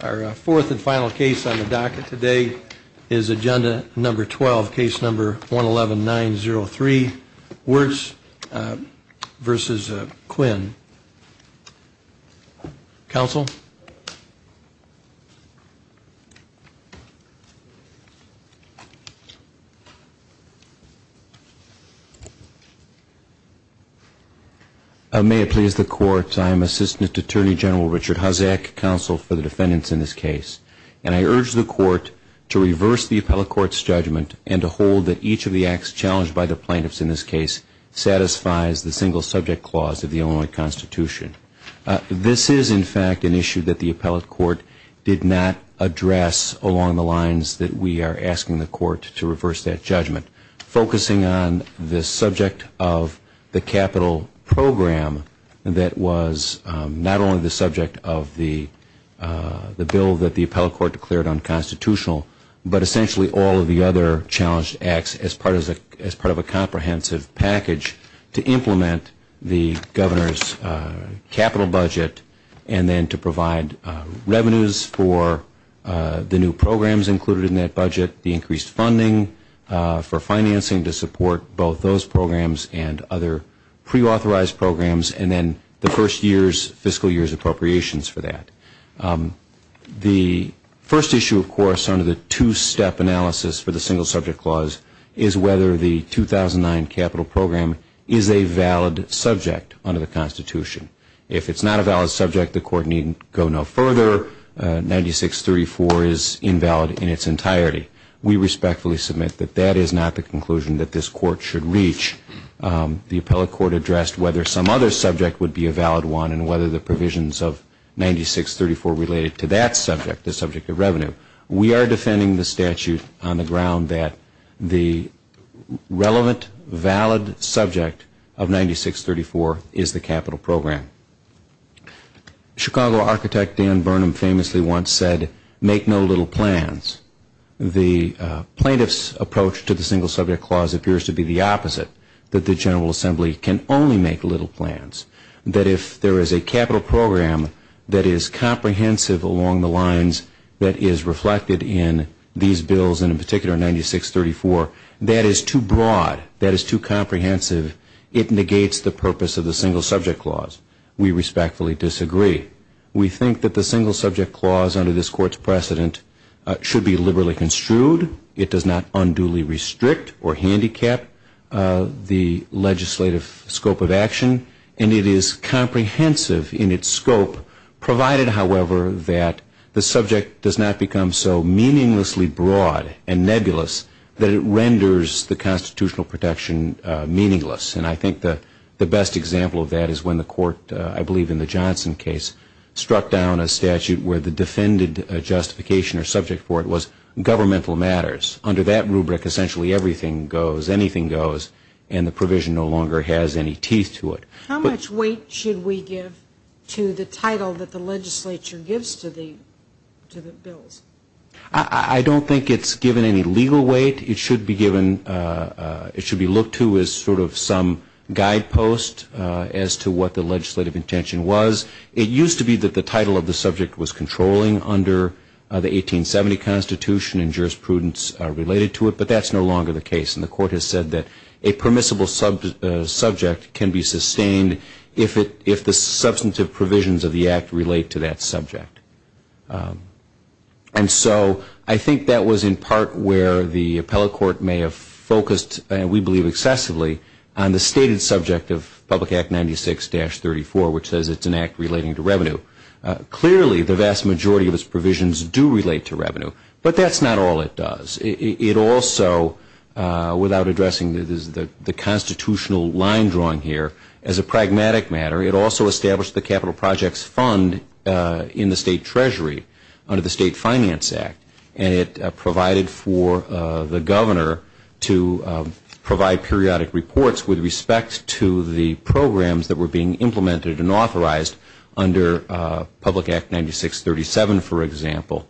Our fourth and final case on the docket today is agenda number 12, case number 111903, Wirtz v. Quinn. Counsel? May it please the Court, I am Assistant Attorney General Richard Hosek, counsel for the defendants in this case. And I urge the Court to reverse the appellate court's judgment and to hold that each of the acts challenged by the plaintiffs in this case satisfies the single subject clause of the Illinois Constitution. This is, in fact, an issue that the plaintiffs have to address. It is an issue that the appellate court did not address along the lines that we are asking the court to reverse that judgment. Focusing on the subject of the capital program that was not only the subject of the bill that the appellate court declared unconstitutional, but essentially all of the other challenged acts as part of a comprehensive package to implement the governor's capital budget and then to provide revenues for the new programs included in that budget, the increased funding for financing to support both those programs and other preauthorized programs, and then the first year's fiscal year's appropriations for that. The first issue, of course, under the two-step analysis for the single subject clause is whether the 2009 capital program is a valid subject under the Constitution. If it's not a valid subject, the court needn't go no further. 9634 is invalid in its entirety. We respectfully submit that that is not the conclusion that this court should reach. The appellate court addressed whether some other subject would be a valid one and whether the provisions of 9634 related to that subject, the subject of revenue. We are defending the statute on the ground that the relevant, valid subject of 9634 is the capital program. Chicago architect Dan Burnham famously once said, make no little plans. The plaintiff's approach to the single subject clause appears to be the opposite, that the General Assembly can only make little plans. That if there is a capital program that is comprehensive along the lines that is reflected in these bills, and in particular 9634, that is too broad, that is too comprehensive. It negates the purpose of the single subject clause. We respectfully disagree. We think that the single subject clause under this court's precedent should be liberally construed. It does not unduly restrict or handicap the legislative scope of action. And it is comprehensive in its scope, provided, however, that the subject does not become so meaninglessly broad and nebulous that it renders the constitutional protection meaningless. And I think the best example of that is when the court, I believe in the Johnson case, struck down a statute where the defended justification or subject for it was governmental matters. Under that rubric, essentially everything goes, anything goes, and the provision no longer has any teeth to it. How much weight should we give to the title that the legislature gives to the bills? I don't think it's given any legal weight. It should be given, it should be looked to as sort of some guidepost as to what the legislative intention was. It used to be that the title of the subject was controlling under the 1870 Constitution and jurisprudence related to it, but that's no longer the case. And the court has said that a permissible subject can be sustained if the substantive provisions of the act relate to that subject. And so I think that was in part where the appellate court may have focused, we believe excessively, on the stated subject of Public Act 96-34, which says it's an act relating to revenue. Clearly, the vast majority of its provisions do relate to revenue, but that's not all it does. It also, without addressing the constitutional line drawing here, as a pragmatic matter, it also established the capital projects fund in the state treasury under the State Finance Act, and it provided for the governor to provide periodic reports with respect to the programs that were being implemented and authorized under Public Act 96-37, for example,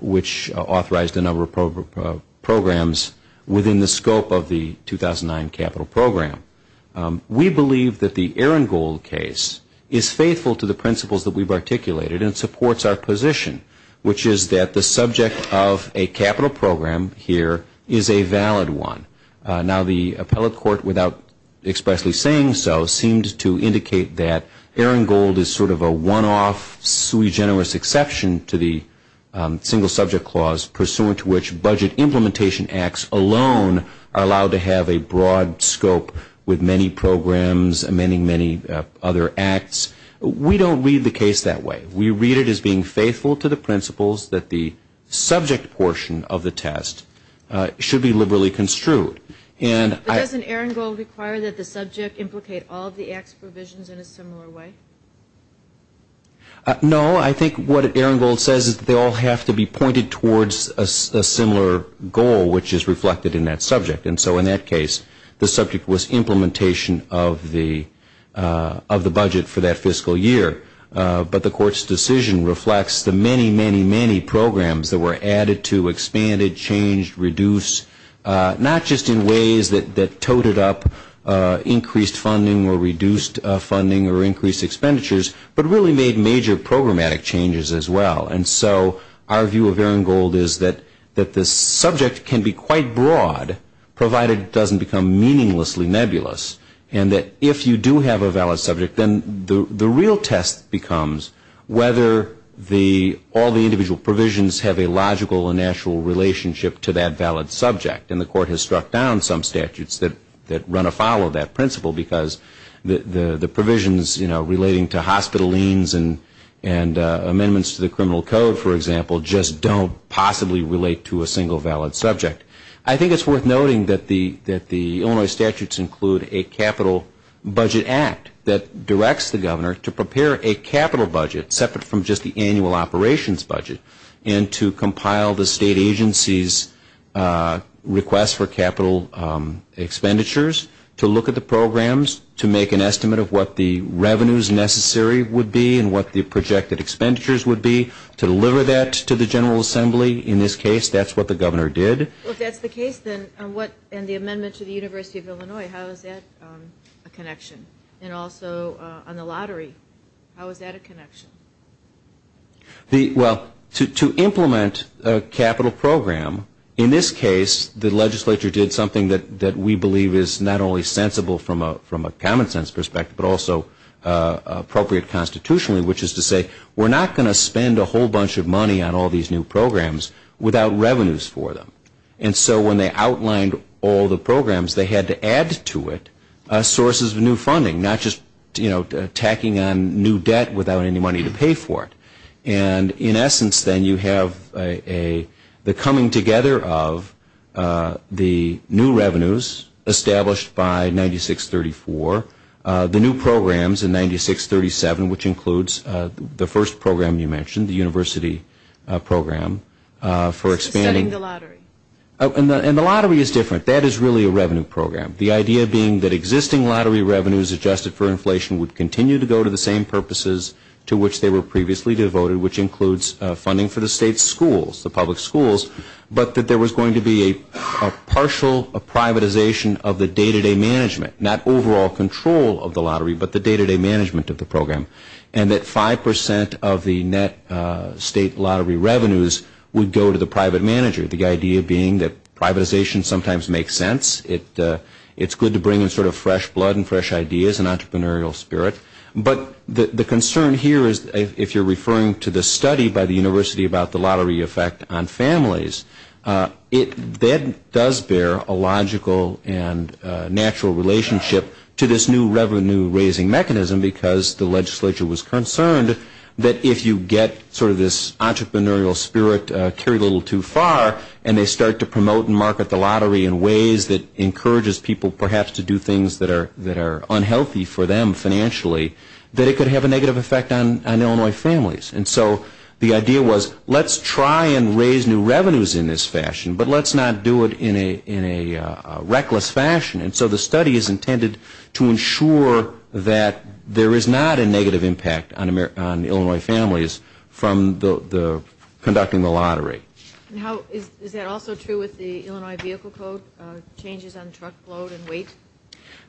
which authorized a number of programs within the scope of the 2009 capital program. We believe that the Arangold case is faithful to the principles that we've articulated and supports our position, which is that the subject of a capital program here is a valid one. Now, the appellate court, without expressly saying so, seemed to indicate that Arangold is sort of a one-off sui generis exception to the single subject clause, pursuant to which budget implementation acts alone are allowed to have a broad scope with many programs amending many other acts. We don't read the case that way. We read it as being faithful to the principles that the subject portion of the test should be liberally construed. But doesn't Arangold require that the subject implicate all of the acts provisions in a similar way? No. I think what Arangold says is that they all have to be pointed towards a similar goal, which is reflected in that subject. And so in that case, the subject was implementation of the budget for that fiscal year. But the court's decision reflects the many, many, many programs that were added to, expanded, changed, reduced, not just in ways that toted up increased funding or reduced funding or increased expenditures, but really made major programmatic changes as well. And so our view of Arangold is that the subject can be quite broad, provided it doesn't become meaninglessly nebulous, and that if you do have a valid subject, then the real test becomes whether all the individual provisions have a logical and natural relationship to that valid subject. And the court has struck down some statutes that run afoul of that principle, because the provisions relating to hospital liens and amendments to the criminal code, for example, just don't possibly relate to a single valid subject. I think it's worth noting that the Illinois statutes include a capital budget act that directs the governor to prepare a capital budget separate from just the annual operations budget and to compile the state agency's request for capital expenditures, to look at the programs, to make an estimate of what the revenues necessary would be and what the projected expenditures would be, to deliver that to the General Assembly. In this case, that's what the governor did. Well, if that's the case, then what, and the amendment to the University of Illinois, how is that a connection? Well, to implement a capital program, in this case, the legislature did something that we believe is not only sensible from a common sense perspective, but also appropriate constitutionally, which is to say we're not going to spend a whole bunch of money on all these new programs without revenues for them. And so when they outlined all the programs, they had to add to it sources of new funding, not just tacking on new debt without any money to pay for it. And in essence, then, you have the coming together of the new revenues established by 9634, the new programs in 9637, which includes the first program you mentioned, the university program for expanding. Setting the lottery. And the lottery is different. That is really a revenue program. The idea being that existing lottery revenues adjusted for inflation would continue to go to the same purposes to which they were previously devoted, which includes funding for the state schools, the public schools, but that there was going to be a partial privatization of the day-to-day management, not overall control of the lottery, but the day-to-day management of the program. And that 5% of the net state lottery revenues would go to the private manager, the idea being that privatization sometimes makes sense. It's good to bring in sort of fresh blood and fresh ideas and entrepreneurial spirit. But the concern here is if you're referring to the study by the university about the lottery effect on families, that does bear a logical and natural relationship to this new revenue-raising mechanism because the legislature was concerned that if you get sort of this entrepreneurial spirit carried a little too far and they start to promote and market the lottery in ways that encourages people perhaps to do things that are unhealthy for them financially, that it could have a negative effect on Illinois families. And so the idea was let's try and raise new revenues in this fashion, but let's not do it in a reckless fashion. And so the study is intended to ensure that there is not a negative impact on Illinois families from conducting the lottery. Is that also true with the Illinois Vehicle Code changes on truckload and weight?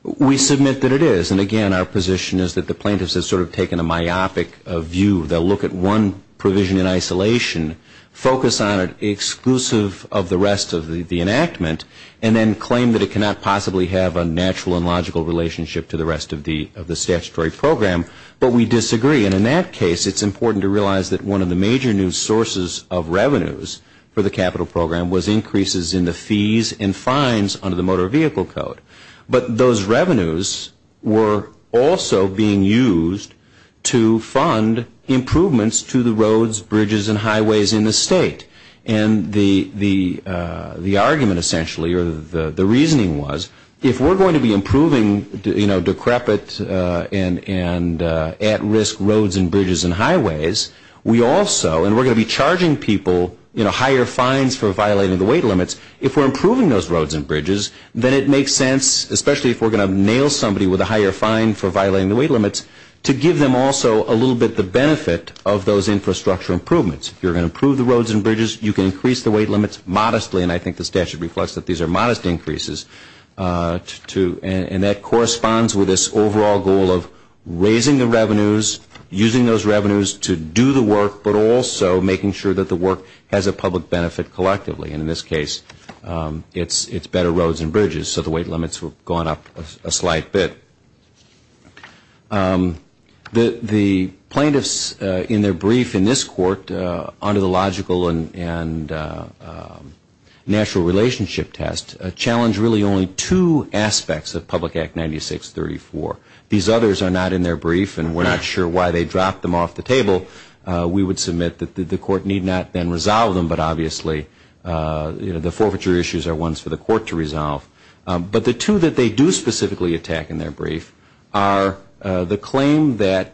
We submit that it is. And again, our position is that the plaintiffs have sort of taken a myopic view. They'll look at one provision in isolation, focus on it exclusive of the rest of the enactment, and then claim that it cannot possibly have a natural and logical relationship to the rest of the statutory program. But we disagree. And in that case, it's important to realize that one of the major new sources of revenues for the capital program was increases in the fees and fines under the Motor Vehicle Code. But those revenues were also being used to fund improvements to the roads, bridges, and highways in the state. And the argument, essentially, or the reasoning was if we're going to be improving, you know, decrepit and at-risk roads and bridges and highways, we also, and we're going to be charging people, you know, higher fines for violating the weight limits. If we're improving those roads and bridges, then it makes sense, especially if we're going to nail somebody with a higher fine for violating the weight limits, to give them also a little bit the benefit of those infrastructure improvements. If you're going to improve the roads and bridges, you can increase the weight limits modestly, and I think the statute reflects that these are modest increases, and that corresponds with this overall goal of raising the revenues, using those revenues to do the work, but also making sure that the work has a public benefit collectively. And in this case, it's better roads and bridges, so the weight limits have gone up a slight bit. The plaintiffs in their brief in this court, under the logical and natural relationship test, challenge really only two aspects of Public Act 9634. These others are not in their brief, and we're not sure why they dropped them off the table. We would submit that the court need not then resolve them, but obviously, you know, the forfeiture issues are ones for the court to resolve. But the two that they do specifically attack in their brief are the claim that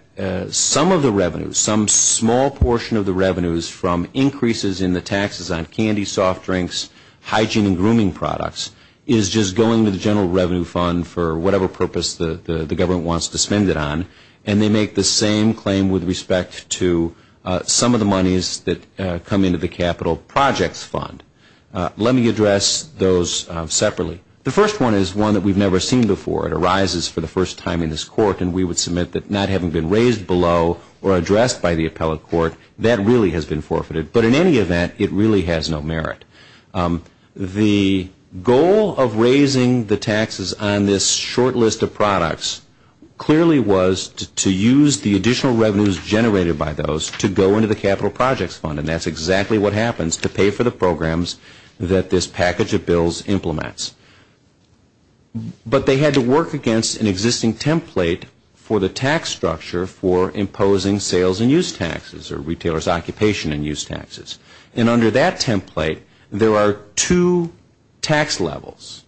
some of the revenues, some small portion of the revenues from increases in the taxes on candy, soft drinks, hygiene, and grooming products is just going to the general revenue fund for whatever purpose the government wants to spend it on, and they make the same claim with respect to some of the monies that come into the capital projects fund. Let me address those separately. The first one is one that we've never seen before. It arises for the first time in this court, and we would submit that not having been raised below or addressed by the appellate court, that really has been forfeited. But in any event, it really has no merit. The goal of raising the taxes on this short list of products clearly was to use the additional revenues generated by those to go into the capital projects fund, and that's exactly what happens to pay for the programs that this package of bills implements. But they had to work against an existing template for the tax structure for imposing sales and use taxes or retailers' occupation and use taxes. And under that template, there are two tax levels,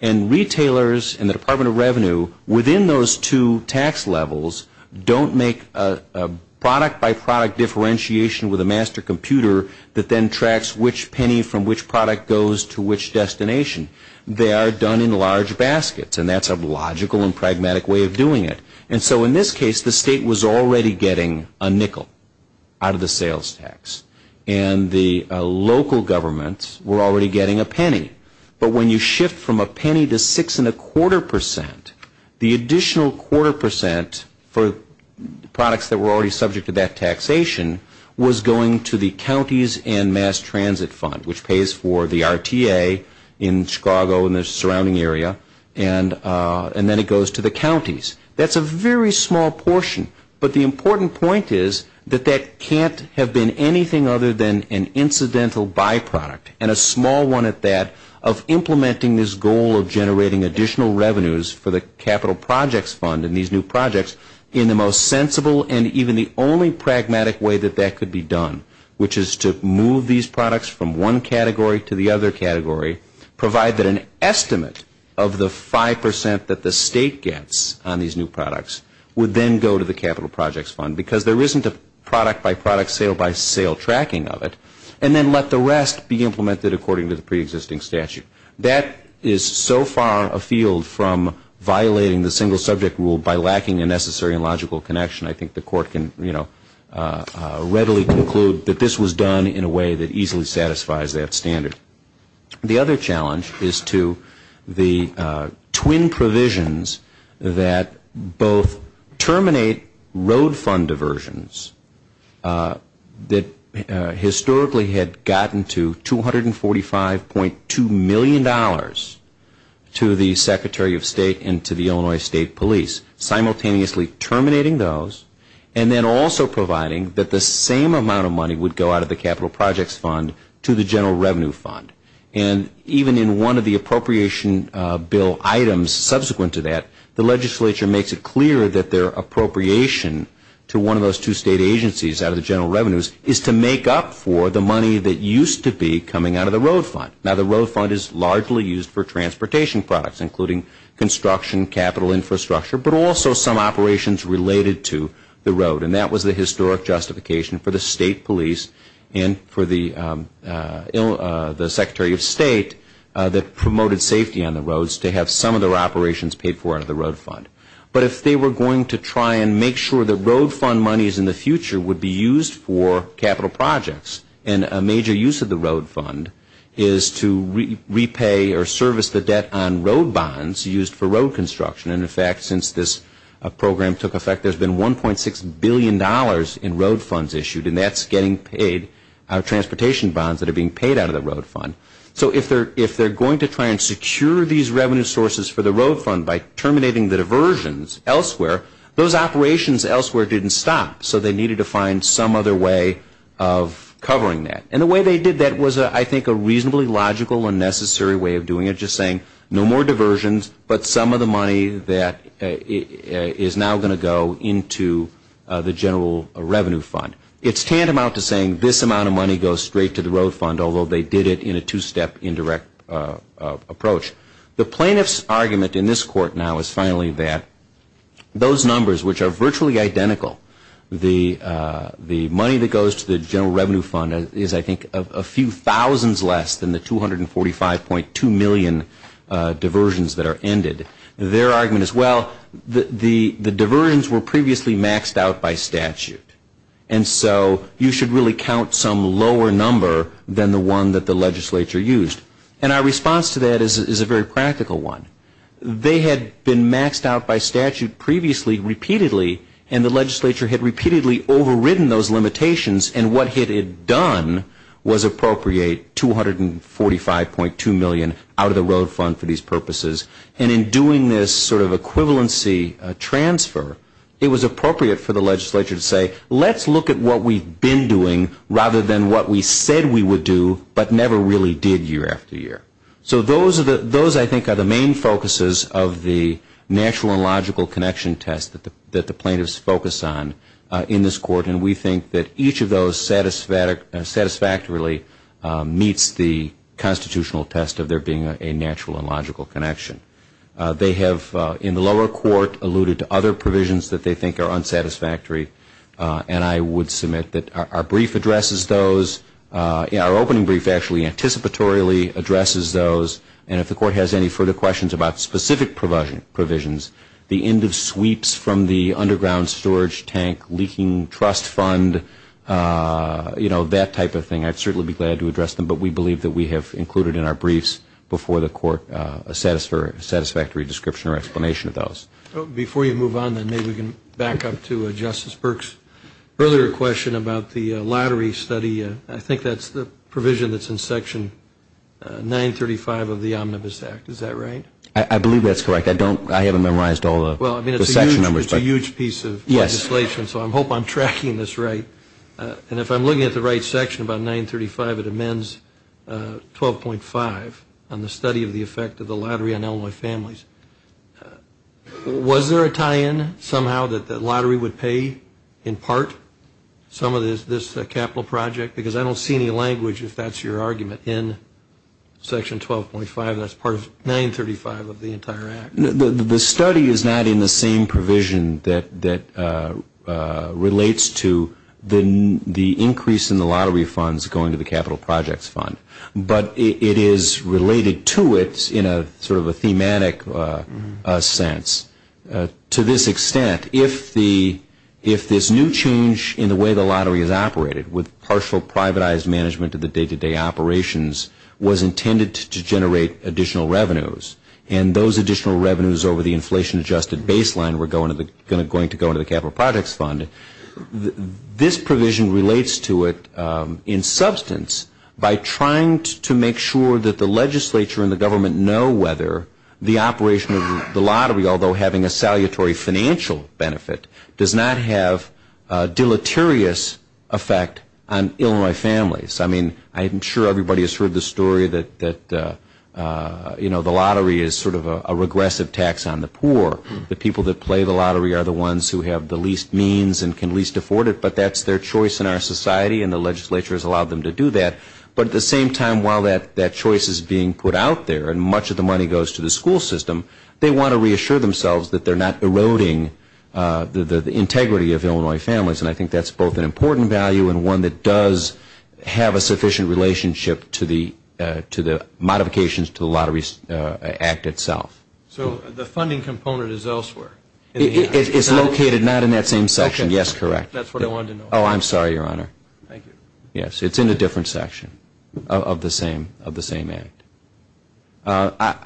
and retailers and the Department of Revenue, within those two tax levels, don't make a product-by-product differentiation with a master computer that then tracks which penny from which product goes to which destination. They are done in large baskets, and that's a logical and pragmatic way of doing it. And so in this case, the state was already getting a nickel out of the sales tax, but when you shift from a penny to 6.25%, the additional 0.25% for products that were already subject to that taxation was going to the counties and mass transit fund, which pays for the RTA in Chicago and the surrounding area, and then it goes to the counties. That's a very small portion, but the important point is that that can't have been anything other than an incidental byproduct. And a small one at that of implementing this goal of generating additional revenues for the capital projects fund and these new projects in the most sensible and even the only pragmatic way that that could be done, which is to move these products from one category to the other category, provide that an estimate of the 5% that the state gets on these new products would then go to the capital projects fund because there isn't a product-by-product, sale-by-sale tracking of it, and then let the rest be implemented according to the preexisting statute. That is so far afield from violating the single subject rule by lacking a necessary and logical connection. I think the court can readily conclude that this was done in a way that easily satisfies that standard. The other challenge is to the twin provisions that both terminate road fund diversions that historically had gotten to $245.2 million to the Secretary of State and to the Illinois State Police, simultaneously terminating those and then also providing that the same amount of money would go out of the capital projects fund to the general revenue fund. And even in one of the appropriation bill items subsequent to that, the legislature makes it clear that their appropriation to one of those two state agencies out of the general revenues is to make up for the money that used to be coming out of the road fund. Now, the road fund is largely used for transportation products, including construction, capital infrastructure, but also some operations related to the road. And that was the historic justification for the state police and for the Secretary of State that promoted safety on the roads to have some of their operations paid for out of the road fund. But if they were going to try and make sure that road fund monies in the future would be used for capital projects, and a major use of the road fund is to repay or service the debt on road bonds used for road construction. And in fact, since this program took effect, there's been $1.6 billion in road funds issued, and that's getting paid out of transportation bonds that are being paid out of the road fund. So if they're going to try and secure these revenue sources for the road fund by terminating the diversions elsewhere, those operations elsewhere didn't stop. So they needed to find some other way of covering that. And the way they did that was, I think, a reasonably logical and necessary way of doing it, which is saying no more diversions, but some of the money that is now going to go into the general revenue fund. It's tantamount to saying this amount of money goes straight to the road fund, although they did it in a two-step indirect approach. The plaintiff's argument in this court now is finally that those numbers, which are virtually identical, the money that goes to the general revenue fund is, I think, a few thousands less than the 245.2 million diversions that are ended. Their argument is, well, the diversions were previously maxed out by statute, and so you should really count some lower number than the one that the legislature used. And our response to that is a very practical one. They had been maxed out by statute previously, repeatedly, and the legislature had repeatedly overridden those limitations, and what it had done was appropriate 245.2 million out of the road fund for these purposes. And in doing this sort of equivalency transfer, it was appropriate for the legislature to say, let's look at what we've been doing rather than what we said we would do, but never really did year after year. So those, I think, are the main focuses of the natural and logical connection test that the plaintiffs focus on in this court, and we think that each of those satisfactorily meets the constitutional test of there being a natural and logical connection. They have, in the lower court, alluded to other provisions that they think are unsatisfactory, and I would submit that our brief addresses those. Our opening brief actually anticipatorily addresses those, and if the court has any further questions about specific provisions, the end of sweeps from the underground storage tank leaking trust fund, you know, that type of thing, I'd certainly be glad to address them, but we believe that we have included in our briefs before the court a satisfactory description or explanation of those. Before you move on then, maybe we can back up to Justice Burke's earlier question about the lottery study. I think that's the provision that's in Section 935 of the Omnibus Act. Is that right? I believe that's correct. I haven't memorized all the section numbers. Well, I mean, it's a huge piece of legislation, so I hope I'm tracking this right. And if I'm looking at the right section about 935, it amends 12.5 on the study of the effect of the lottery on Illinois families. Was there a tie-in somehow that the lottery would pay in part some of this capital project? Because I don't see any language, if that's your argument, in Section 12.5. That's part of 935 of the entire act. The study is not in the same provision that relates to the increase in the lottery funds going to the capital projects fund, but it is related to it in sort of a thematic sense. To this extent, if this new change in the way the lottery is operated, with partial privatized management of the day-to-day operations, was intended to generate additional revenues, and those additional revenues over the inflation-adjusted baseline were going to go into the capital projects fund, this provision relates to it in substance by trying to make sure that the legislature and the government know whether the operation of the lottery, although having a salutary financial benefit, does not have a deleterious effect on Illinois families. I mean, I'm sure everybody has heard the story that the lottery is sort of a regressive tax on the poor. The people that play the lottery are the ones who have the least means and can least afford it, but that's their choice in our society and the legislature has allowed them to do that. But at the same time, while that choice is being put out there and much of the money goes to the school system, they want to reassure themselves that they're not eroding the integrity of Illinois families. And I think that's both an important value and one that does have a sufficient relationship to the modifications to the Lottery Act itself. So the funding component is elsewhere? It's located not in that same section. Yes, correct. That's what I wanted to know. Oh, I'm sorry, Your Honor. Thank you. Yes, it's in a different section of the same act.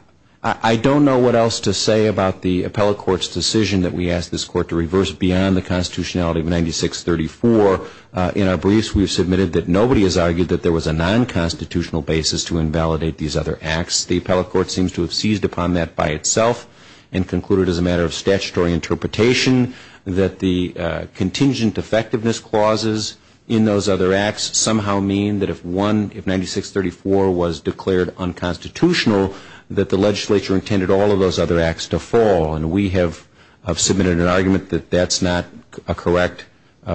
I don't know what else to say about the appellate court's decision that we asked this court to reverse beyond the constitutionality of 9634. In our briefs, we've submitted that nobody has argued that there was a non-constitutional basis to invalidate these other acts. The appellate court seems to have seized upon that by itself and concluded as a matter of statutory interpretation that the contingent effectiveness clauses in those other acts somehow mean that if 9634 was declared unconstitutional, that the legislature intended all of those other acts to fall. And we have submitted an argument that that's not a correct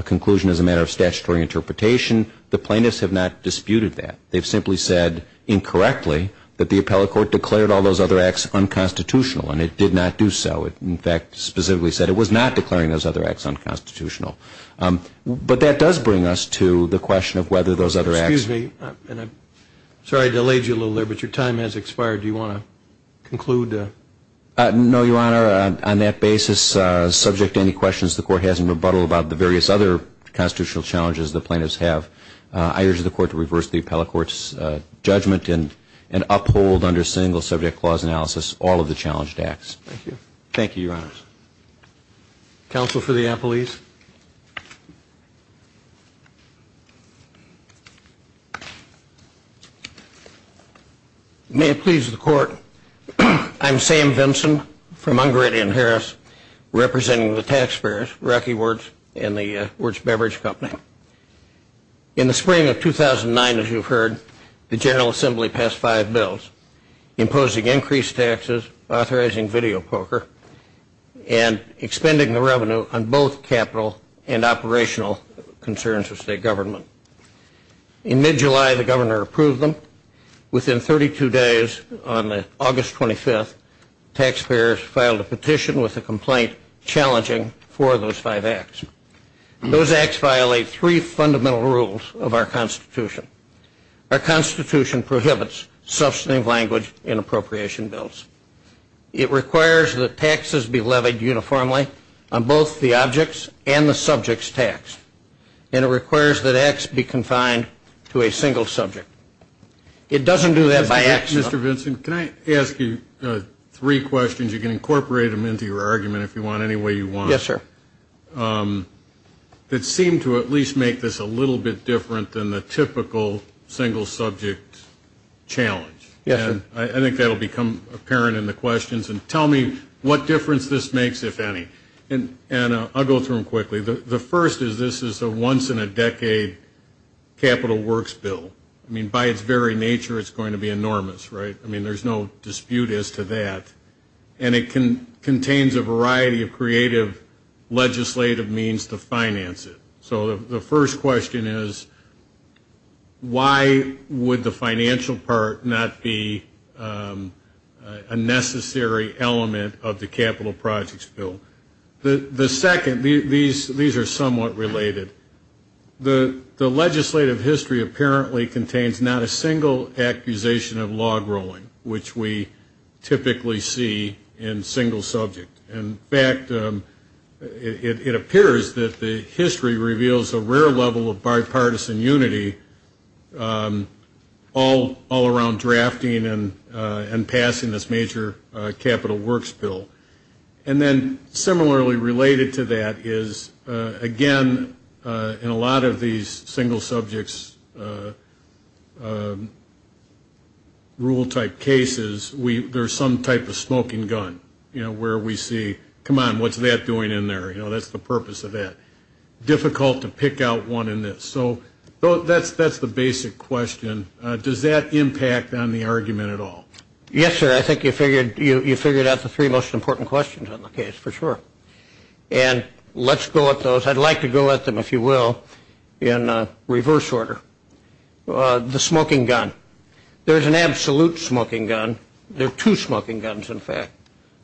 conclusion as a matter of statutory interpretation. The plaintiffs have not disputed that. They've simply said incorrectly that the appellate court declared all those other acts unconstitutional, and it did not do so. It, in fact, specifically said it was not declaring those other acts unconstitutional. But that does bring us to the question of whether those other acts ---- Excuse me. I'm sorry I delayed you a little there, but your time has expired. Do you want to conclude? No, Your Honor. On that basis, subject to any questions the Court has in rebuttal about the various other constitutional challenges the plaintiffs have, I urge the Court to reverse the appellate court's judgment and uphold under single-subject clause analysis all of the challenged acts. Thank you. Thank you, Your Honors. Counsel for the appellees. Please. May it please the Court, I'm Sam Vinson from Ungrady and Harris, representing the taxpayers, Rocky Woods and the Woods Beverage Company. In the spring of 2009, as you've heard, the General Assembly passed five bills imposing increased taxes, authorizing video poker, and expending the revenue on both capital and operational concerns of state government. In mid-July, the Governor approved them. Within 32 days, on August 25th, taxpayers filed a petition with a complaint challenging four of those five acts. Those acts violate three fundamental rules of our Constitution. Our Constitution prohibits substantive language in appropriation bills. It requires that taxes be levied uniformly on both the objects and the subjects taxed, and it requires that acts be confined to a single subject. It doesn't do that by accident. Mr. Vinson, can I ask you three questions? You can incorporate them into your argument if you want, any way you want. Yes, sir. I have three questions that seem to at least make this a little bit different than the typical single subject challenge. Yes, sir. I think that will become apparent in the questions, and tell me what difference this makes, if any. And I'll go through them quickly. The first is this is a once-in-a-decade capital works bill. I mean, by its very nature, it's going to be enormous, right? I mean, there's no dispute as to that. And it contains a variety of creative legislative means to finance it. So the first question is, why would the financial part not be a necessary element of the capital projects bill? The second, these are somewhat related. The legislative history apparently contains not a single accusation of log rolling, which we typically see in single subject. In fact, it appears that the history reveals a rare level of bipartisan unity all around drafting and passing this major capital works bill. And then similarly related to that is, again, in a lot of these single subjects rule type cases, there's some type of smoking gun where we see, come on, what's that doing in there? You know, that's the purpose of that. Difficult to pick out one in this. So that's the basic question. Does that impact on the argument at all? Yes, sir, I think you figured out the three most important questions on the case, for sure. And let's go at those. I'd like to go at them, if you will, in reverse order. The smoking gun. There's an absolute smoking gun. There are two smoking guns, in fact.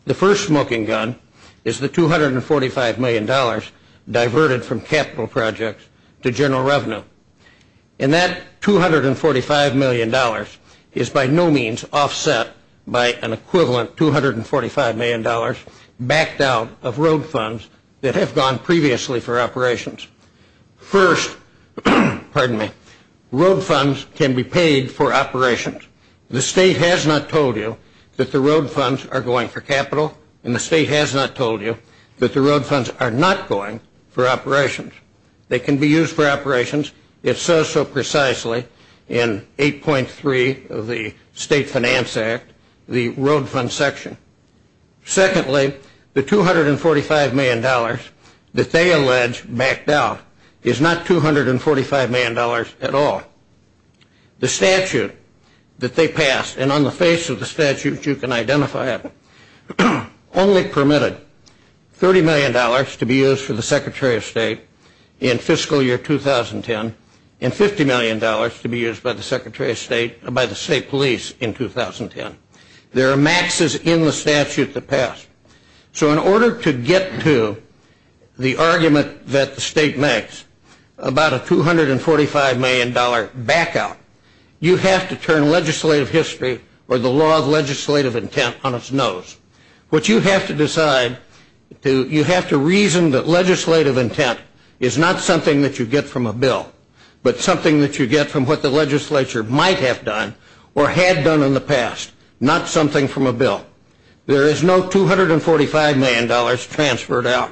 The first smoking gun is the $245 million diverted from capital projects to general revenue. And that $245 million is by no means offset by an equivalent $245 million backed out of road funds that have gone previously for operations. First, pardon me, road funds can be paid for operations. The state has not told you that the road funds are going for capital, and the state has not told you that the road funds are not going for operations. They can be used for operations, it says so precisely in 8.3 of the State Finance Act, the road fund section. Secondly, the $245 million that they allege backed out is not $245 million at all. The statute that they passed, and on the face of the statute you can identify it, only permitted $30 million to be used for the Secretary of State in fiscal year 2010, and $50 million to be used by the State Police in 2010. There are maxes in the statute that pass. So in order to get to the argument that the state makes about a $245 million back out, you have to turn legislative history or the law of legislative intent on its nose. What you have to decide, you have to reason that legislative intent is not something that you get from a bill, but something that you get from what the legislature might have done or had done in the past, not something from a bill. There is no $245 million transferred out.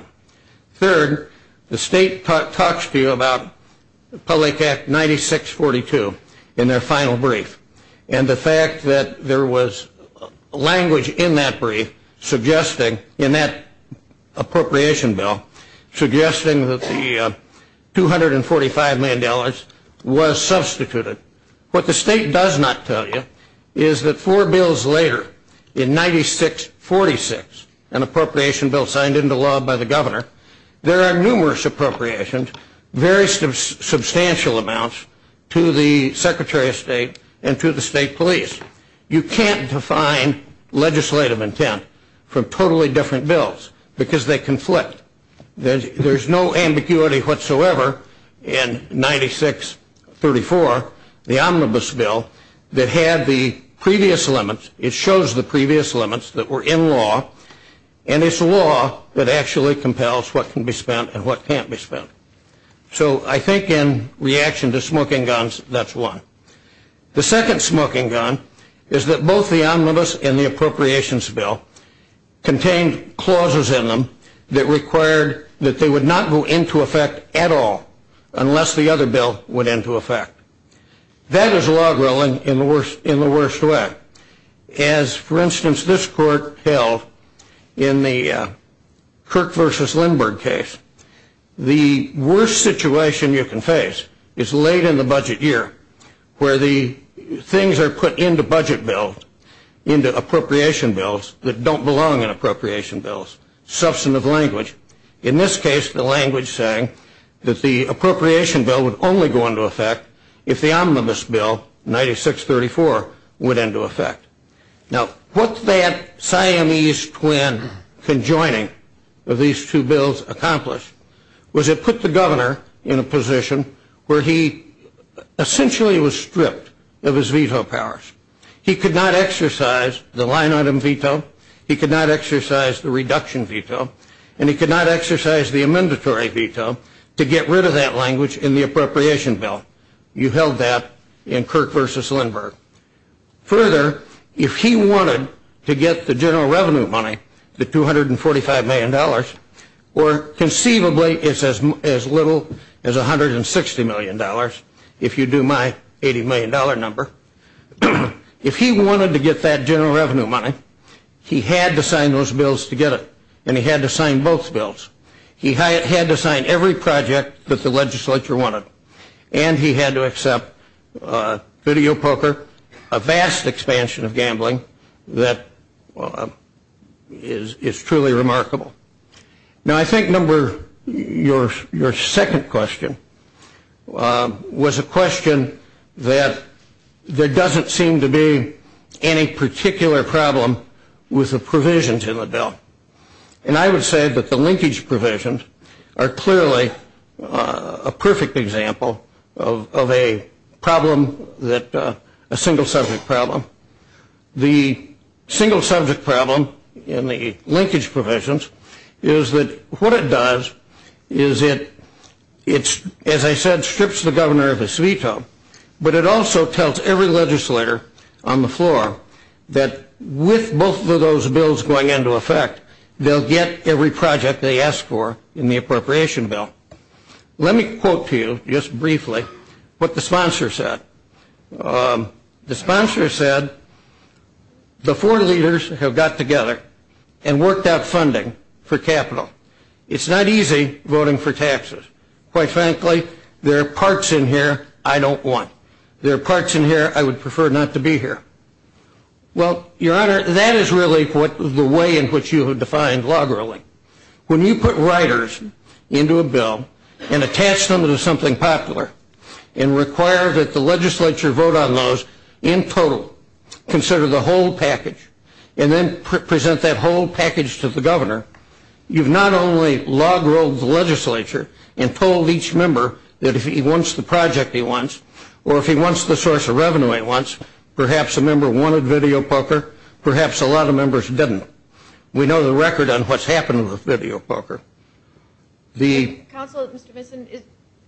Third, the state talks to you about Public Act 9642 in their final brief, and the fact that there was language in that brief suggesting, in that appropriation bill, suggesting that the $245 million was substituted. What the state does not tell you is that four bills later, in 9646, an appropriation bill signed into law by the governor, there are numerous appropriations, very substantial amounts, to the Secretary of State and to the State Police. You can't define legislative intent from totally different bills because they conflict. There's no ambiguity whatsoever in 9634, the omnibus bill, that had the previous limits. It shows the previous limits that were in law, and it's law that actually compels what can be spent and what can't be spent. So I think in reaction to smoking guns, that's one. The second smoking gun is that both the omnibus and the appropriations bill contained clauses in them that required that they would not go into effect at all unless the other bill went into effect. That is log rolling in the worst way. As, for instance, this court held in the Kirk v. Lindbergh case, the worst situation you can face is late in the budget year, where the things are put into budget bills, into appropriation bills, that don't belong in appropriation bills. Substantive language. In this case, the language saying that the appropriation bill would only go into effect if the omnibus bill, 9634, went into effect. Now, what that Siamese twin conjoining of these two bills accomplished was it put the governor in a position where he essentially was stripped of his veto powers. He could not exercise the line item veto, he could not exercise the reduction veto, and he could not exercise the amendatory veto to get rid of that language in the appropriation bill. You held that in Kirk v. Lindbergh. Further, if he wanted to get the general revenue money, the $245 million, or conceivably it's as little as $160 million, if you do my $80 million number, if he wanted to get that general revenue money, he had to sign those bills to get it. And he had to sign both bills. He had to sign every project that the legislature wanted. And he had to accept video poker, a vast expansion of gambling that is truly remarkable. Now, I think, number, your second question was a question that there doesn't seem to be any particular problem with the provisions in the bill. And I would say that the linkage provisions are clearly a perfect example of a problem that, a single subject problem. The single subject problem in the linkage provisions is that what it does is it, as I said, strips the governor of his veto, but it also tells every legislator on the floor that with both of those bills going into effect, they'll get every project they ask for in the appropriation bill. Let me quote to you just briefly what the sponsor said. The sponsor said, the four leaders have got together and worked out funding for capital. It's not easy voting for taxes. Quite frankly, there are parts in here I don't want. There are parts in here I would prefer not to be here. Well, your honor, that is really the way in which you have defined log rolling. When you put riders into a bill and attach them to something popular and require that the legislature vote on those in total, consider the whole package, and then present that whole package to the governor, you've not only log rolled the legislature and told each member that if he wants the project he wants or if he wants the source of revenue he wants, perhaps a member wanted video poker, perhaps a lot of members didn't. We know the record on what's happened with video poker. Counsel, Mr. Vinson,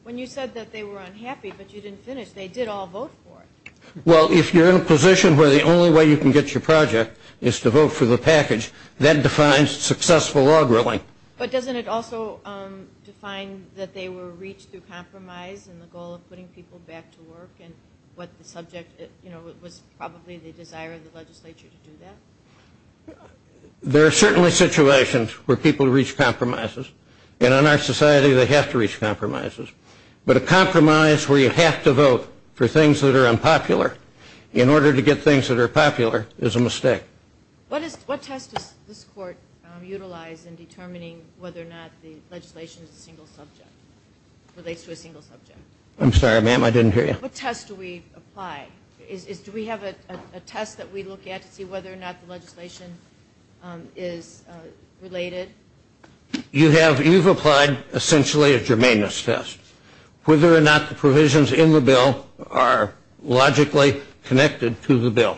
when you said that they were unhappy but you didn't finish, they did all vote for it. Well, if you're in a position where the only way you can get your project is to vote for the package, that defines successful log rolling. But doesn't it also define that they were reached through compromise and the goal of putting people back to work and what the subject was probably the desire of the legislature to do that? There are certainly situations where people reach compromises, and in our society they have to reach compromises. But a compromise where you have to vote for things that are unpopular in order to get things that are popular is a mistake. What test does this court utilize in determining whether or not the legislation is a single subject, relates to a single subject? I'm sorry, ma'am, I didn't hear you. What test do we apply? Do we have a test that we look at to see whether or not the legislation is related? You've applied essentially a germaneness test. Whether or not the provisions in the bill are logically connected to the bill.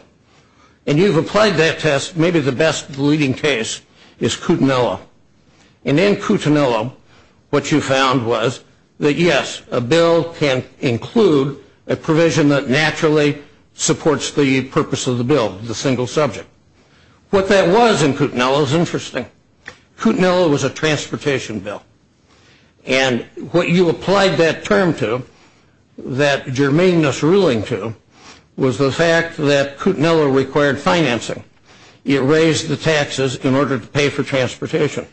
And you've applied that test, maybe the best leading case is Coutinello. And in Coutinello what you found was that yes, a bill can include a provision that naturally supports the purpose of the bill, the single subject. What that was in Coutinello is interesting. Coutinello was a transportation bill. And what you applied that term to, that germaneness ruling to, was the fact that Coutinello required financing. It raised the taxes in order to pay for transportation.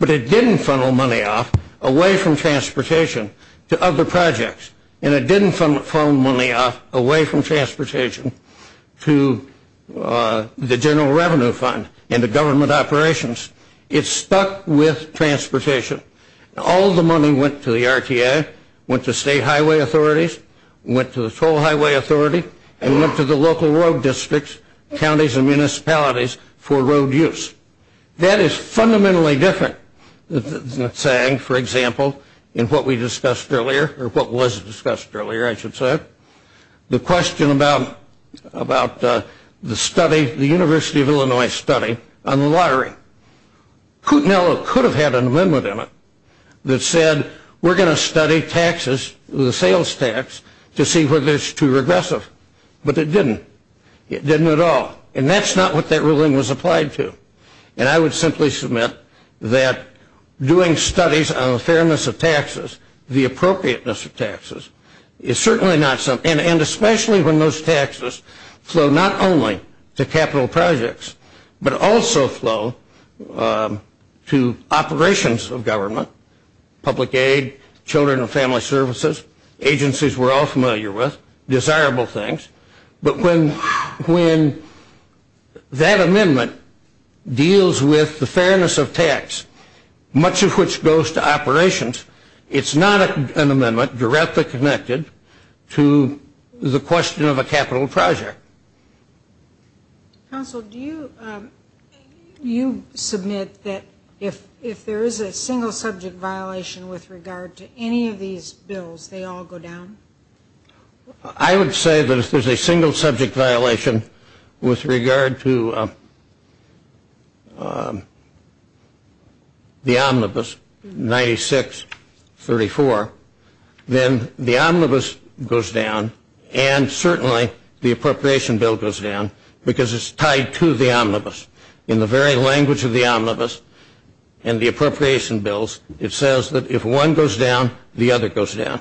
But it didn't funnel money off away from transportation to other projects. And it didn't funnel money off away from transportation to the general revenue fund and the government operations. It stuck with transportation. All the money went to the RTA, went to state highway authorities, went to the toll highway authority, and went to the local road districts, counties, and municipalities for road use. That is fundamentally different than saying, for example, in what we discussed earlier, or what was discussed earlier I should say, the question about the study, the University of Illinois study on the lottery. Coutinello could have had an amendment in it that said we're going to study taxes, the sales tax, to see whether it's too regressive. But it didn't. It didn't at all. And that's not what that ruling was applied to. And I would simply submit that doing studies on the fairness of taxes, the appropriateness of taxes, is certainly not something, and especially when those taxes flow not only to capital projects, but also flow to operations of government, public aid, children and family services, agencies we're all familiar with, desirable things. But when that amendment deals with the fairness of tax, much of which goes to operations, it's not an amendment directly connected to the question of a capital project. Counsel, do you submit that if there is a single subject violation with regard to any of these bills, they all go down? I would say that if there's a single subject violation with regard to the omnibus 9634, then the omnibus goes down and certainly the appropriation bill goes down because it's tied to the omnibus. In the very language of the omnibus and the appropriation bills, it says that if one goes down, the other goes down.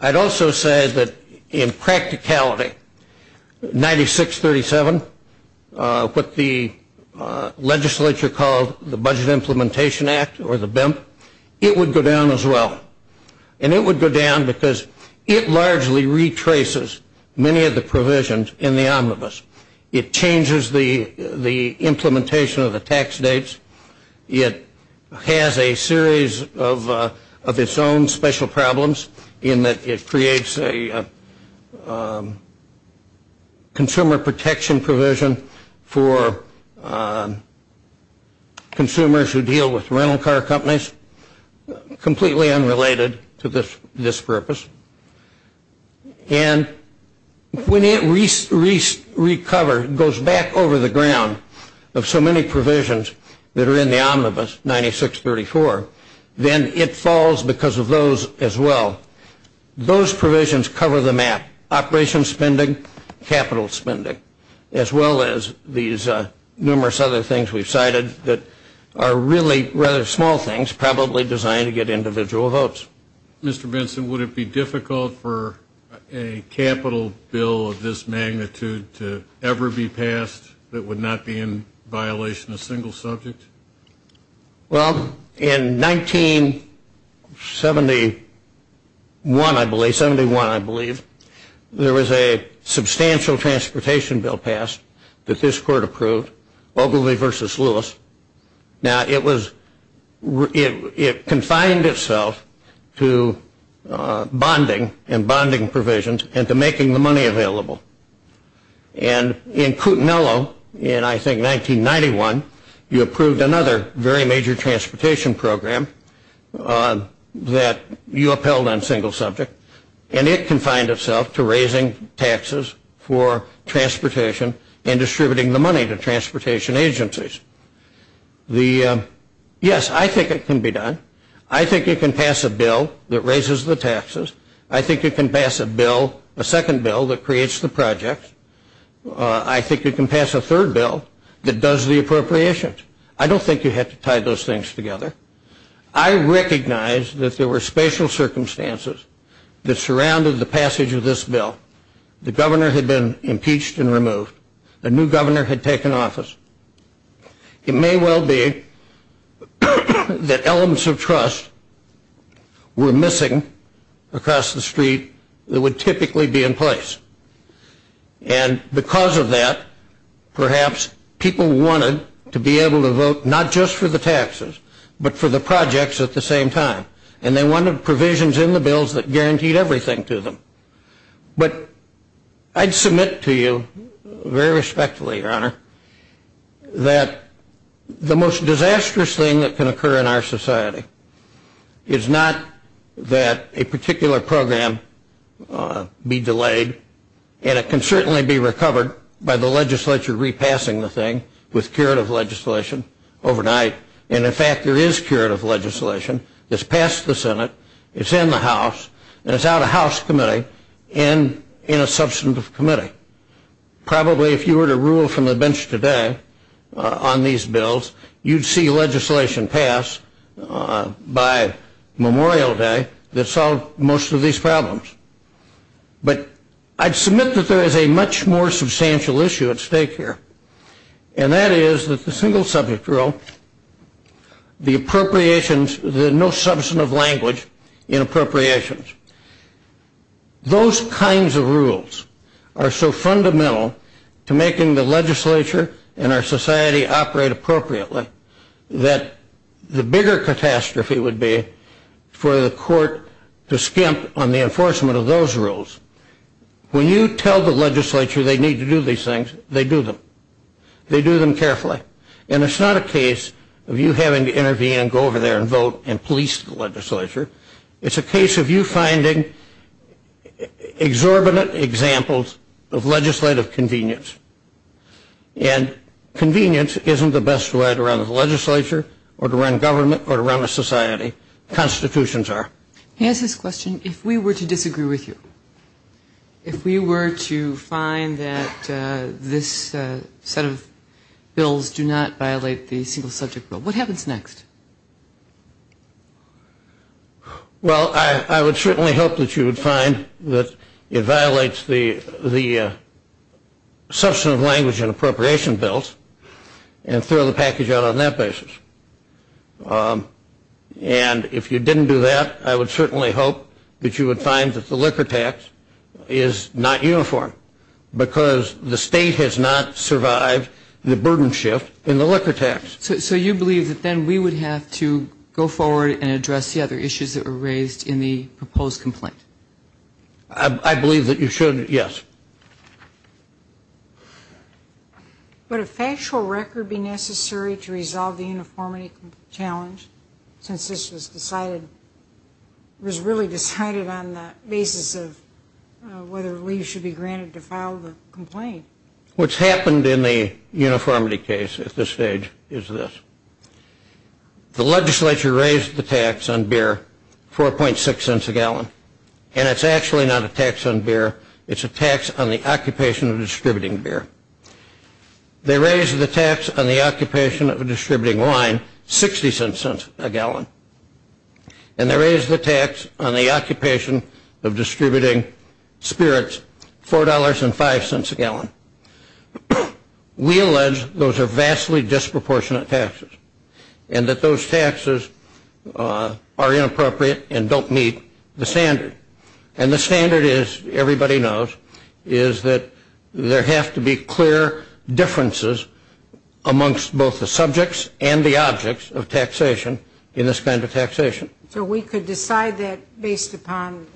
I'd also say that in practicality, 9637, what the legislature called the Budget Implementation Act or the BIMP, it would go down as well. And it would go down because it largely retraces many of the provisions in the omnibus. It changes the implementation of the tax dates. It has a series of its own special problems in that it creates a consumer protection provision for consumers who deal with rental car companies, completely unrelated to this purpose. And when it recovers, goes back over the ground of so many provisions that are in the omnibus 9634, then it falls because of those as well. Those provisions cover the map, operations spending, capital spending, as well as these numerous other things we've cited that are really rather small things, probably designed to get individual votes. Mr. Vinson, would it be difficult for a capital bill of this magnitude to ever be passed that would not be in violation of a single subject? Well, in 1971, I believe, there was a substantial transportation bill passed that this court approved, Ogilvy v. Lewis. Now, it confined itself to bonding and bonding provisions and to making the money available. And in Coutinello in, I think, 1991, you approved another very major transportation program that you upheld on single subject, and it confined itself to raising taxes for transportation and distributing the money to transportation agencies. Yes, I think it can be done. I think it can pass a bill that raises the taxes. I think it can pass a bill, a second bill, that creates the project. I think it can pass a third bill that does the appropriations. I don't think you have to tie those things together. I recognize that there were special circumstances that surrounded the passage of this bill. The governor had been impeached and removed. A new governor had taken office. It may well be that elements of trust were missing across the street that would typically be in place. And because of that, perhaps people wanted to be able to vote not just for the taxes, but for the projects at the same time. And they wanted provisions in the bills that guaranteed everything to them. But I'd submit to you, very respectfully, Your Honor, that the most disastrous thing that can occur in our society is not that a particular program be delayed, and it can certainly be recovered by the legislature repassing the thing with curative legislation overnight. And, in fact, there is curative legislation that's passed the Senate, it's in the House, and it's out of House committee and in a substantive committee. Probably if you were to rule from the bench today on these bills, you'd see legislation passed by Memorial Day that solved most of these problems. But I'd submit that there is a much more substantial issue at stake here, and that is that the single subject rule, the appropriations, the no substantive language in appropriations, those kinds of rules are so fundamental to making the legislature and our society operate appropriately that the bigger catastrophe would be for the court to skimp on the enforcement of those rules. When you tell the legislature they need to do these things, they do them. They do them carefully. And it's not a case of you having to intervene and go over there and vote and police the legislature. It's a case of you finding exorbitant examples of legislative convenience. And convenience isn't the best way to run a legislature or to run government or to run a society. Constitutions are. He asked this question, if we were to disagree with you, if we were to find that this set of bills do not violate the single subject rule, what happens next? Well, I would certainly hope that you would find that it violates the substantive language and appropriation bills and throw the package out on that basis. And if you didn't do that, I would certainly hope that you would find that the liquor tax is not uniform because the state has not survived the burden shift in the liquor tax. So you believe that then we would have to go forward and address the other issues that were raised in the proposed complaint? I believe that you should, yes. Would a factual record be necessary to resolve the uniformity challenge since this was decided, was really decided on the basis of whether leaves should be granted to file the complaint? What's happened in the uniformity case at this stage is this. The legislature raised the tax on beer, 4.6 cents a gallon. It's a tax on the occupation of distributing beer. They raised the tax on the occupation of distributing wine, 60 cents a gallon. And they raised the tax on the occupation of distributing spirits, $4.05 a gallon. We allege those are vastly disproportionate taxes and that those taxes are inappropriate and don't meet the standard. And the standard is, everybody knows, is that there have to be clear differences amongst both the subjects and the objects of taxation in this kind of taxation. So we could decide that based upon,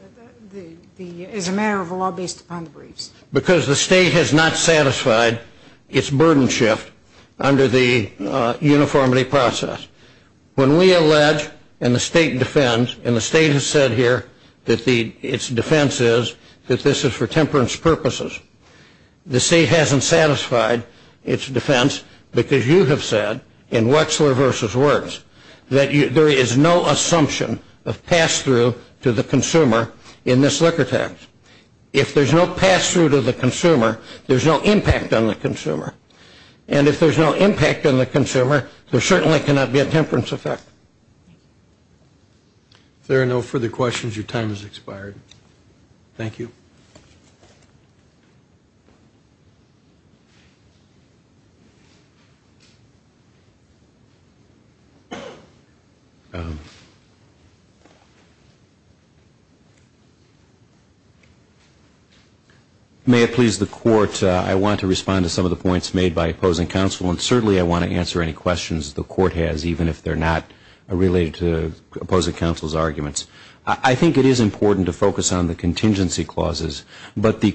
as a matter of law, based upon the briefs? Because the state has not satisfied its burden shift under the uniformity process. When we allege and the state defends, and the state has said here that its defense is that this is for temperance purposes. The state hasn't satisfied its defense because you have said, in Wechsler v. Wirtz, that there is no assumption of pass-through to the consumer in this liquor tax. If there's no pass-through to the consumer, there's no impact on the consumer. And if there's no impact on the consumer, there certainly cannot be a temperance effect. If there are no further questions, your time has expired. Thank you. May it please the Court, I want to respond to some of the points made by opposing counsel. And certainly I want to answer any questions the Court has, even if they're not related to opposing counsel's arguments. I think it is important to focus on the contingency clauses. They're the ones that are in the statute. But the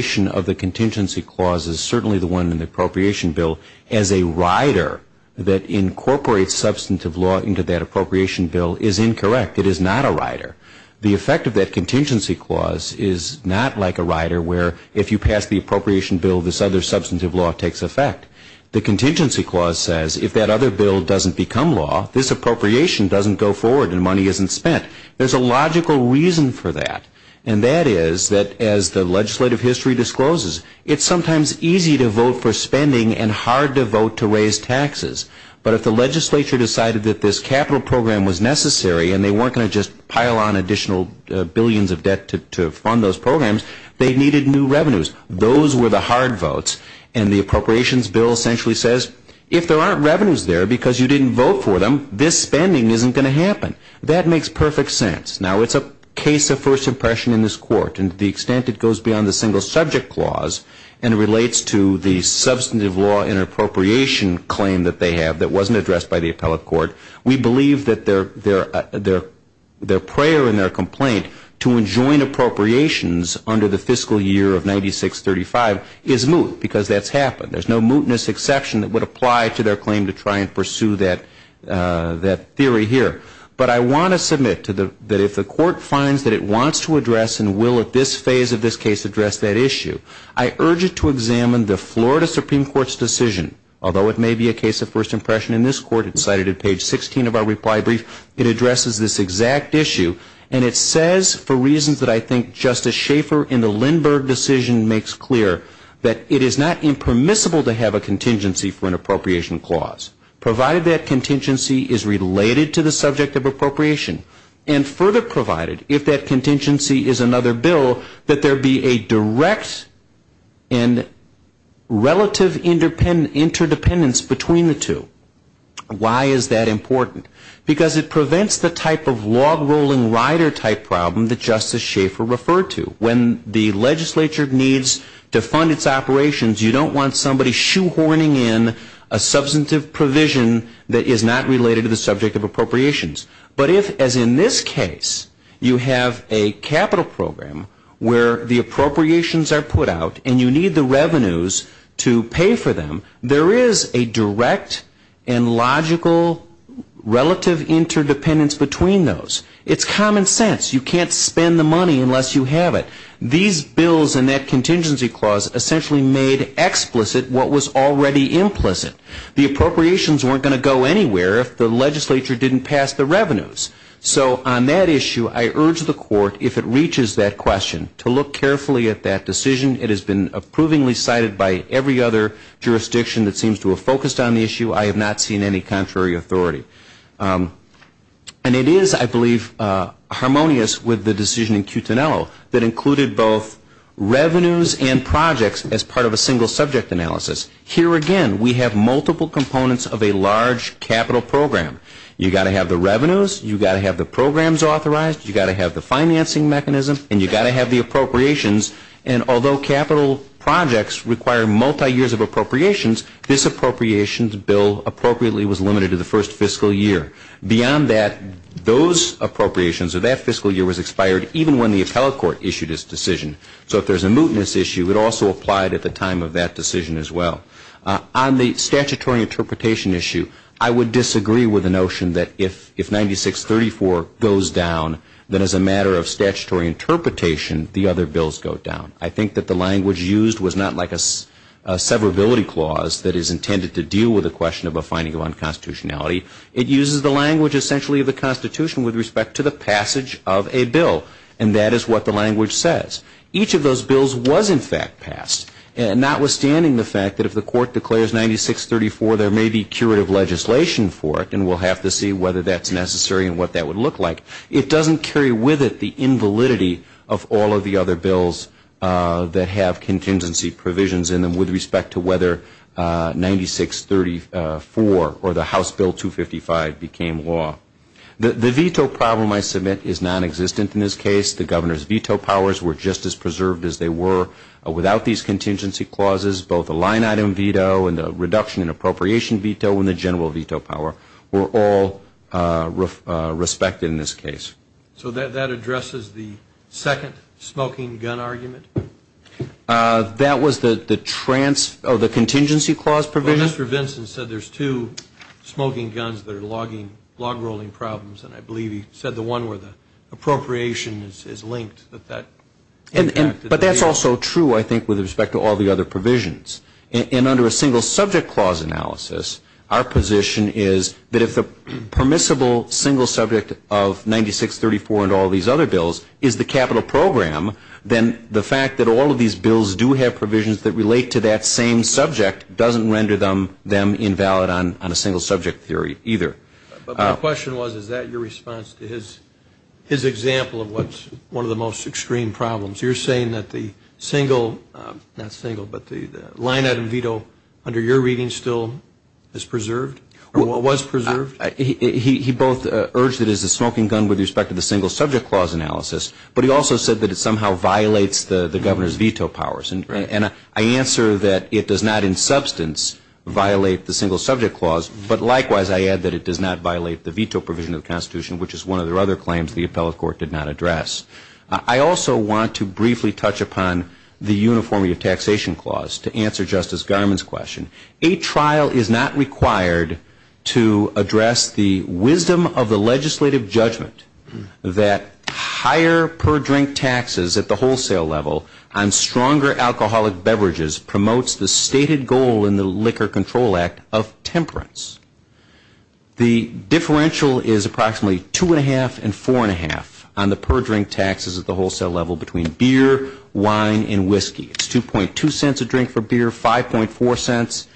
characterization of the contingency clauses, certainly the one in the appropriation bill, as a rider that incorporates substantive law into that appropriation bill is incorrect. It is not a rider. The effect of that contingency clause is not like a rider where, if you pass the appropriation bill, this other substantive law takes effect. The contingency clause says, if that other bill doesn't become law, this appropriation doesn't go forward and money isn't spent. There's a logical reason for that. And that is that, as the legislative history discloses, it's sometimes easy to vote for spending and hard to vote to raise taxes. But if the legislature decided that this capital program was necessary and they weren't going to just pile on additional billions of debt to fund those programs, they needed new revenues. Those were the hard votes. And the appropriations bill essentially says, if there aren't revenues there because you didn't vote for them, this spending isn't going to happen. That makes perfect sense. Now, it's a case of first impression in this court. And to the extent it goes beyond the single subject clause and relates to the substantive law and appropriation claim that they have that wasn't addressed by the appellate court, we believe that their prayer and their complaint to enjoin appropriations under the fiscal year of 96-35 is moot because that's happened. There's no mootness exception that would apply to their claim to try and pursue that theory here. But I want to submit that if the court finds that it wants to address and will at this phase of this case address that issue, I urge it to examine the Florida Supreme Court's decision, although it may be a case of first impression in this court. It's cited at page 16 of our reply brief. It addresses this exact issue. And it says, for reasons that I think Justice Schaffer in the Lindbergh decision makes clear, that it is not impermissible to have a contingency for an appropriation clause, provided that contingency is related to the subject of appropriation. And further provided, if that contingency is another bill, that there be a direct and relative interdependence between the two. Why is that important? Because it prevents the type of log rolling rider type problem that Justice Schaffer referred to. When the legislature needs to fund its operations, you don't want somebody shoehorning in a substantive provision that is not related to the subject of appropriations. But if, as in this case, you have a capital program where the appropriations are put out and you need the revenues to pay for them, there is a direct and logical relative interdependence between those. It's common sense. You can't spend the money unless you have it. These bills and that contingency clause essentially made explicit what was already implicit. The appropriations weren't going to go anywhere if the legislature didn't pass the revenues. So on that issue, I urge the court, if it reaches that question, to look carefully at that decision. It has been approvingly cited by every other jurisdiction that seems to have focused on the issue. I have not seen any contrary authority. And it is, I believe, harmonious with the decision in Cutinello that included both revenues and projects as part of a single subject analysis. Here again, we have multiple components of a large capital program. You've got to have the revenues. You've got to have the programs authorized. You've got to have the financing mechanism. And you've got to have the appropriations. And although capital projects require multi-years of appropriations, this appropriations bill appropriately was limited to the first fiscal year. Beyond that, those appropriations of that fiscal year was expired even when the appellate court issued its decision. So if there's a mootness issue, it also applied at the time of that decision as well. On the statutory interpretation issue, I would disagree with the notion that if 9634 goes down, then as a matter of statutory interpretation, the other bills go down. I think that the language used was not like a severability clause that is intended to deal with the question of a finding of unconstitutionality. It uses the language essentially of the Constitution with respect to the passage of a bill. And that is what the language says. Each of those bills was in fact passed, notwithstanding the fact that if the court declares 9634, there may be curative legislation for it, and we'll have to see whether that's necessary and what that would look like. It doesn't carry with it the invalidity of all of the other bills that have contingency provisions in them with respect to whether 9634 or the House Bill 255 became law. The veto problem I submit is nonexistent in this case. The Governor's veto powers were just as preserved as they were. Without these contingency clauses, both the line item veto and the reduction in appropriation veto and the general veto power were all respected in this case. So that addresses the second smoking gun argument? That was the contingency clause provision? Well, Mr. Vinson said there's two smoking guns that are log rolling problems, and I believe he said the one where the appropriation is linked. But that's also true, I think, with respect to all the other provisions. And under a single subject clause analysis, our position is that if the permissible single subject of 9634 and all these other bills is the capital program, then the fact that all of these bills do have provisions that relate to that same subject doesn't render them invalid on a single subject theory either. But my question was, is that your response to his example of what's one of the most extreme problems? You're saying that the single, not single, but the line item veto under your reading still is preserved? Or was preserved? He both urged it as a smoking gun with respect to the single subject clause analysis, but he also said that it somehow violates the Governor's veto powers. And I answer that it does not in substance violate the single subject clause, but likewise I add that it does not violate the veto provision of the Constitution, which is one of the other claims the appellate court did not address. I also want to briefly touch upon the uniformity of taxation clause to answer Justice Garmon's question. A trial is not required to address the wisdom of the legislative judgment that higher per drink taxes at the wholesale level on stronger alcoholic beverages promotes the stated goal in the Liquor Control Act of temperance. The differential is approximately two and a half and four and a half on the per drink taxes at the wholesale level between beer, wine, and whiskey. It's 2.2 cents a drink for beer, 5.4 cents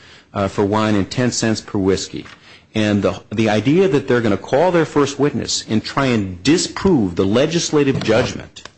for wine, and 10 cents per whiskey. And the idea that they're going to call their first witness and try and disprove the legislative judgment,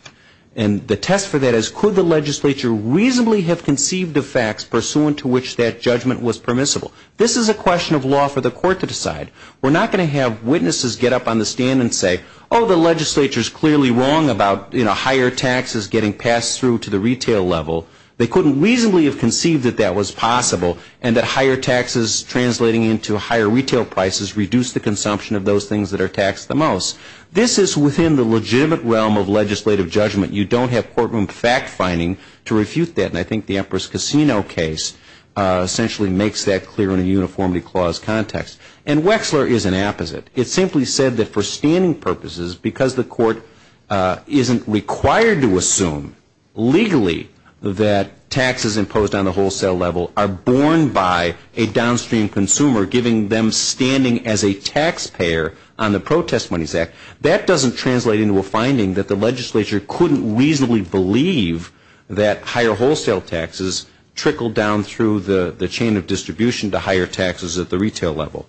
and the test for that is could the legislature reasonably have conceived of facts pursuant to which that judgment was permissible? This is a question of law for the court to decide. We're not going to have witnesses get up on the stand and say, oh, the legislature is clearly wrong about higher taxes getting passed through to the retail level. They couldn't reasonably have conceived that that was possible and that higher taxes translating into higher retail prices reduce the consumption of those things that are taxed the most. This is within the legitimate realm of legislative judgment. You don't have courtroom fact finding to refute that, and I think the Empress Casino case essentially makes that clear in a uniformity clause context. And Wexler is an opposite. It simply said that for standing purposes, because the court isn't required to assume legally that taxes imposed on the wholesale level are borne by a downstream consumer giving them standing as a taxpayer on the Protest Monies Act, that doesn't translate into a finding that the legislature couldn't reasonably believe that higher wholesale taxes trickled down through the chain of distribution to higher taxes at the retail level.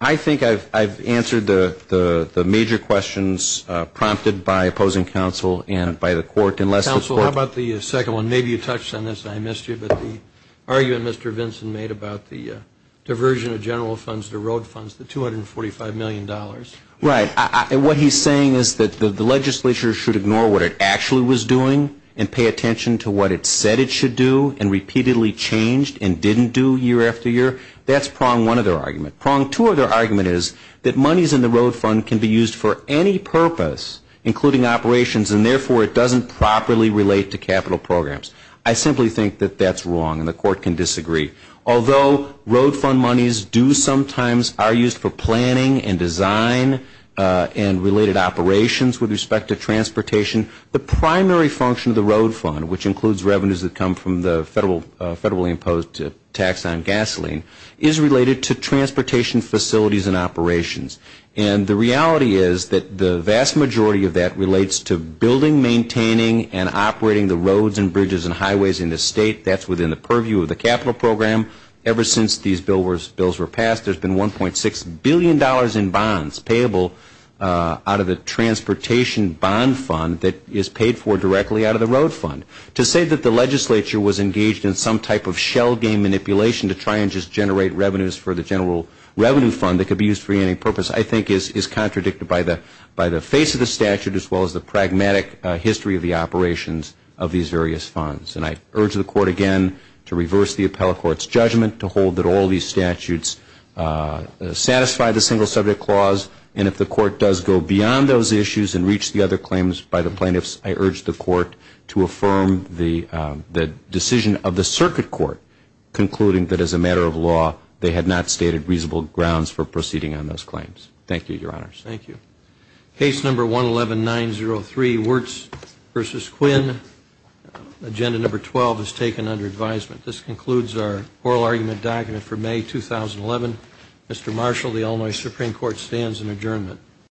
I think I've answered the major questions prompted by opposing counsel and by the court. Counsel, how about the second one? Maybe you touched on this and I missed you, but the argument Mr. Vinson made about the diversion of general funds to road funds, the $245 million. Right. What he's saying is that the legislature should ignore what it actually was doing and pay attention to what it said it should do and repeatedly changed and didn't do year after year. That's prong one of their argument. Prong two of their argument is that monies in the road fund can be used for any purpose, including operations, and therefore it doesn't properly relate to capital programs. I simply think that that's wrong and the court can disagree. Although road fund monies do sometimes are used for planning and design and related operations with respect to transportation, the primary function of the road fund, which includes revenues that come from the federally imposed tax on gasoline, is related to transportation facilities and operations. And the reality is that the vast majority of that relates to building, maintaining, and operating the roads and bridges and highways in the state. That's within the purview of the capital program. Ever since these bills were passed, there's been $1.6 billion in bonds payable out of the transportation bond fund that is paid for directly out of the road fund. To say that the legislature was engaged in some type of shell game manipulation to try and just generate revenues for the general revenue fund that could be used for any purpose, I think, is contradicted by the face of the statute, as well as the pragmatic history of the operations of these various funds. And I urge the court again to reverse the appellate court's judgment, to hold that all these statutes satisfy the single subject clause, and if the court does go beyond those issues and reach the other claims by the plaintiffs, I urge the court to affirm the decision of the circuit court concluding that as a matter of law, they had not stated reasonable grounds for proceeding on those claims. Thank you, Your Honors. Thank you. Case number 111903, Wirtz v. Quinn. Agenda number 12 is taken under advisement. This concludes our oral argument document for May 2011. Mr. Marshall, the Illinois Supreme Court stands in adjournment.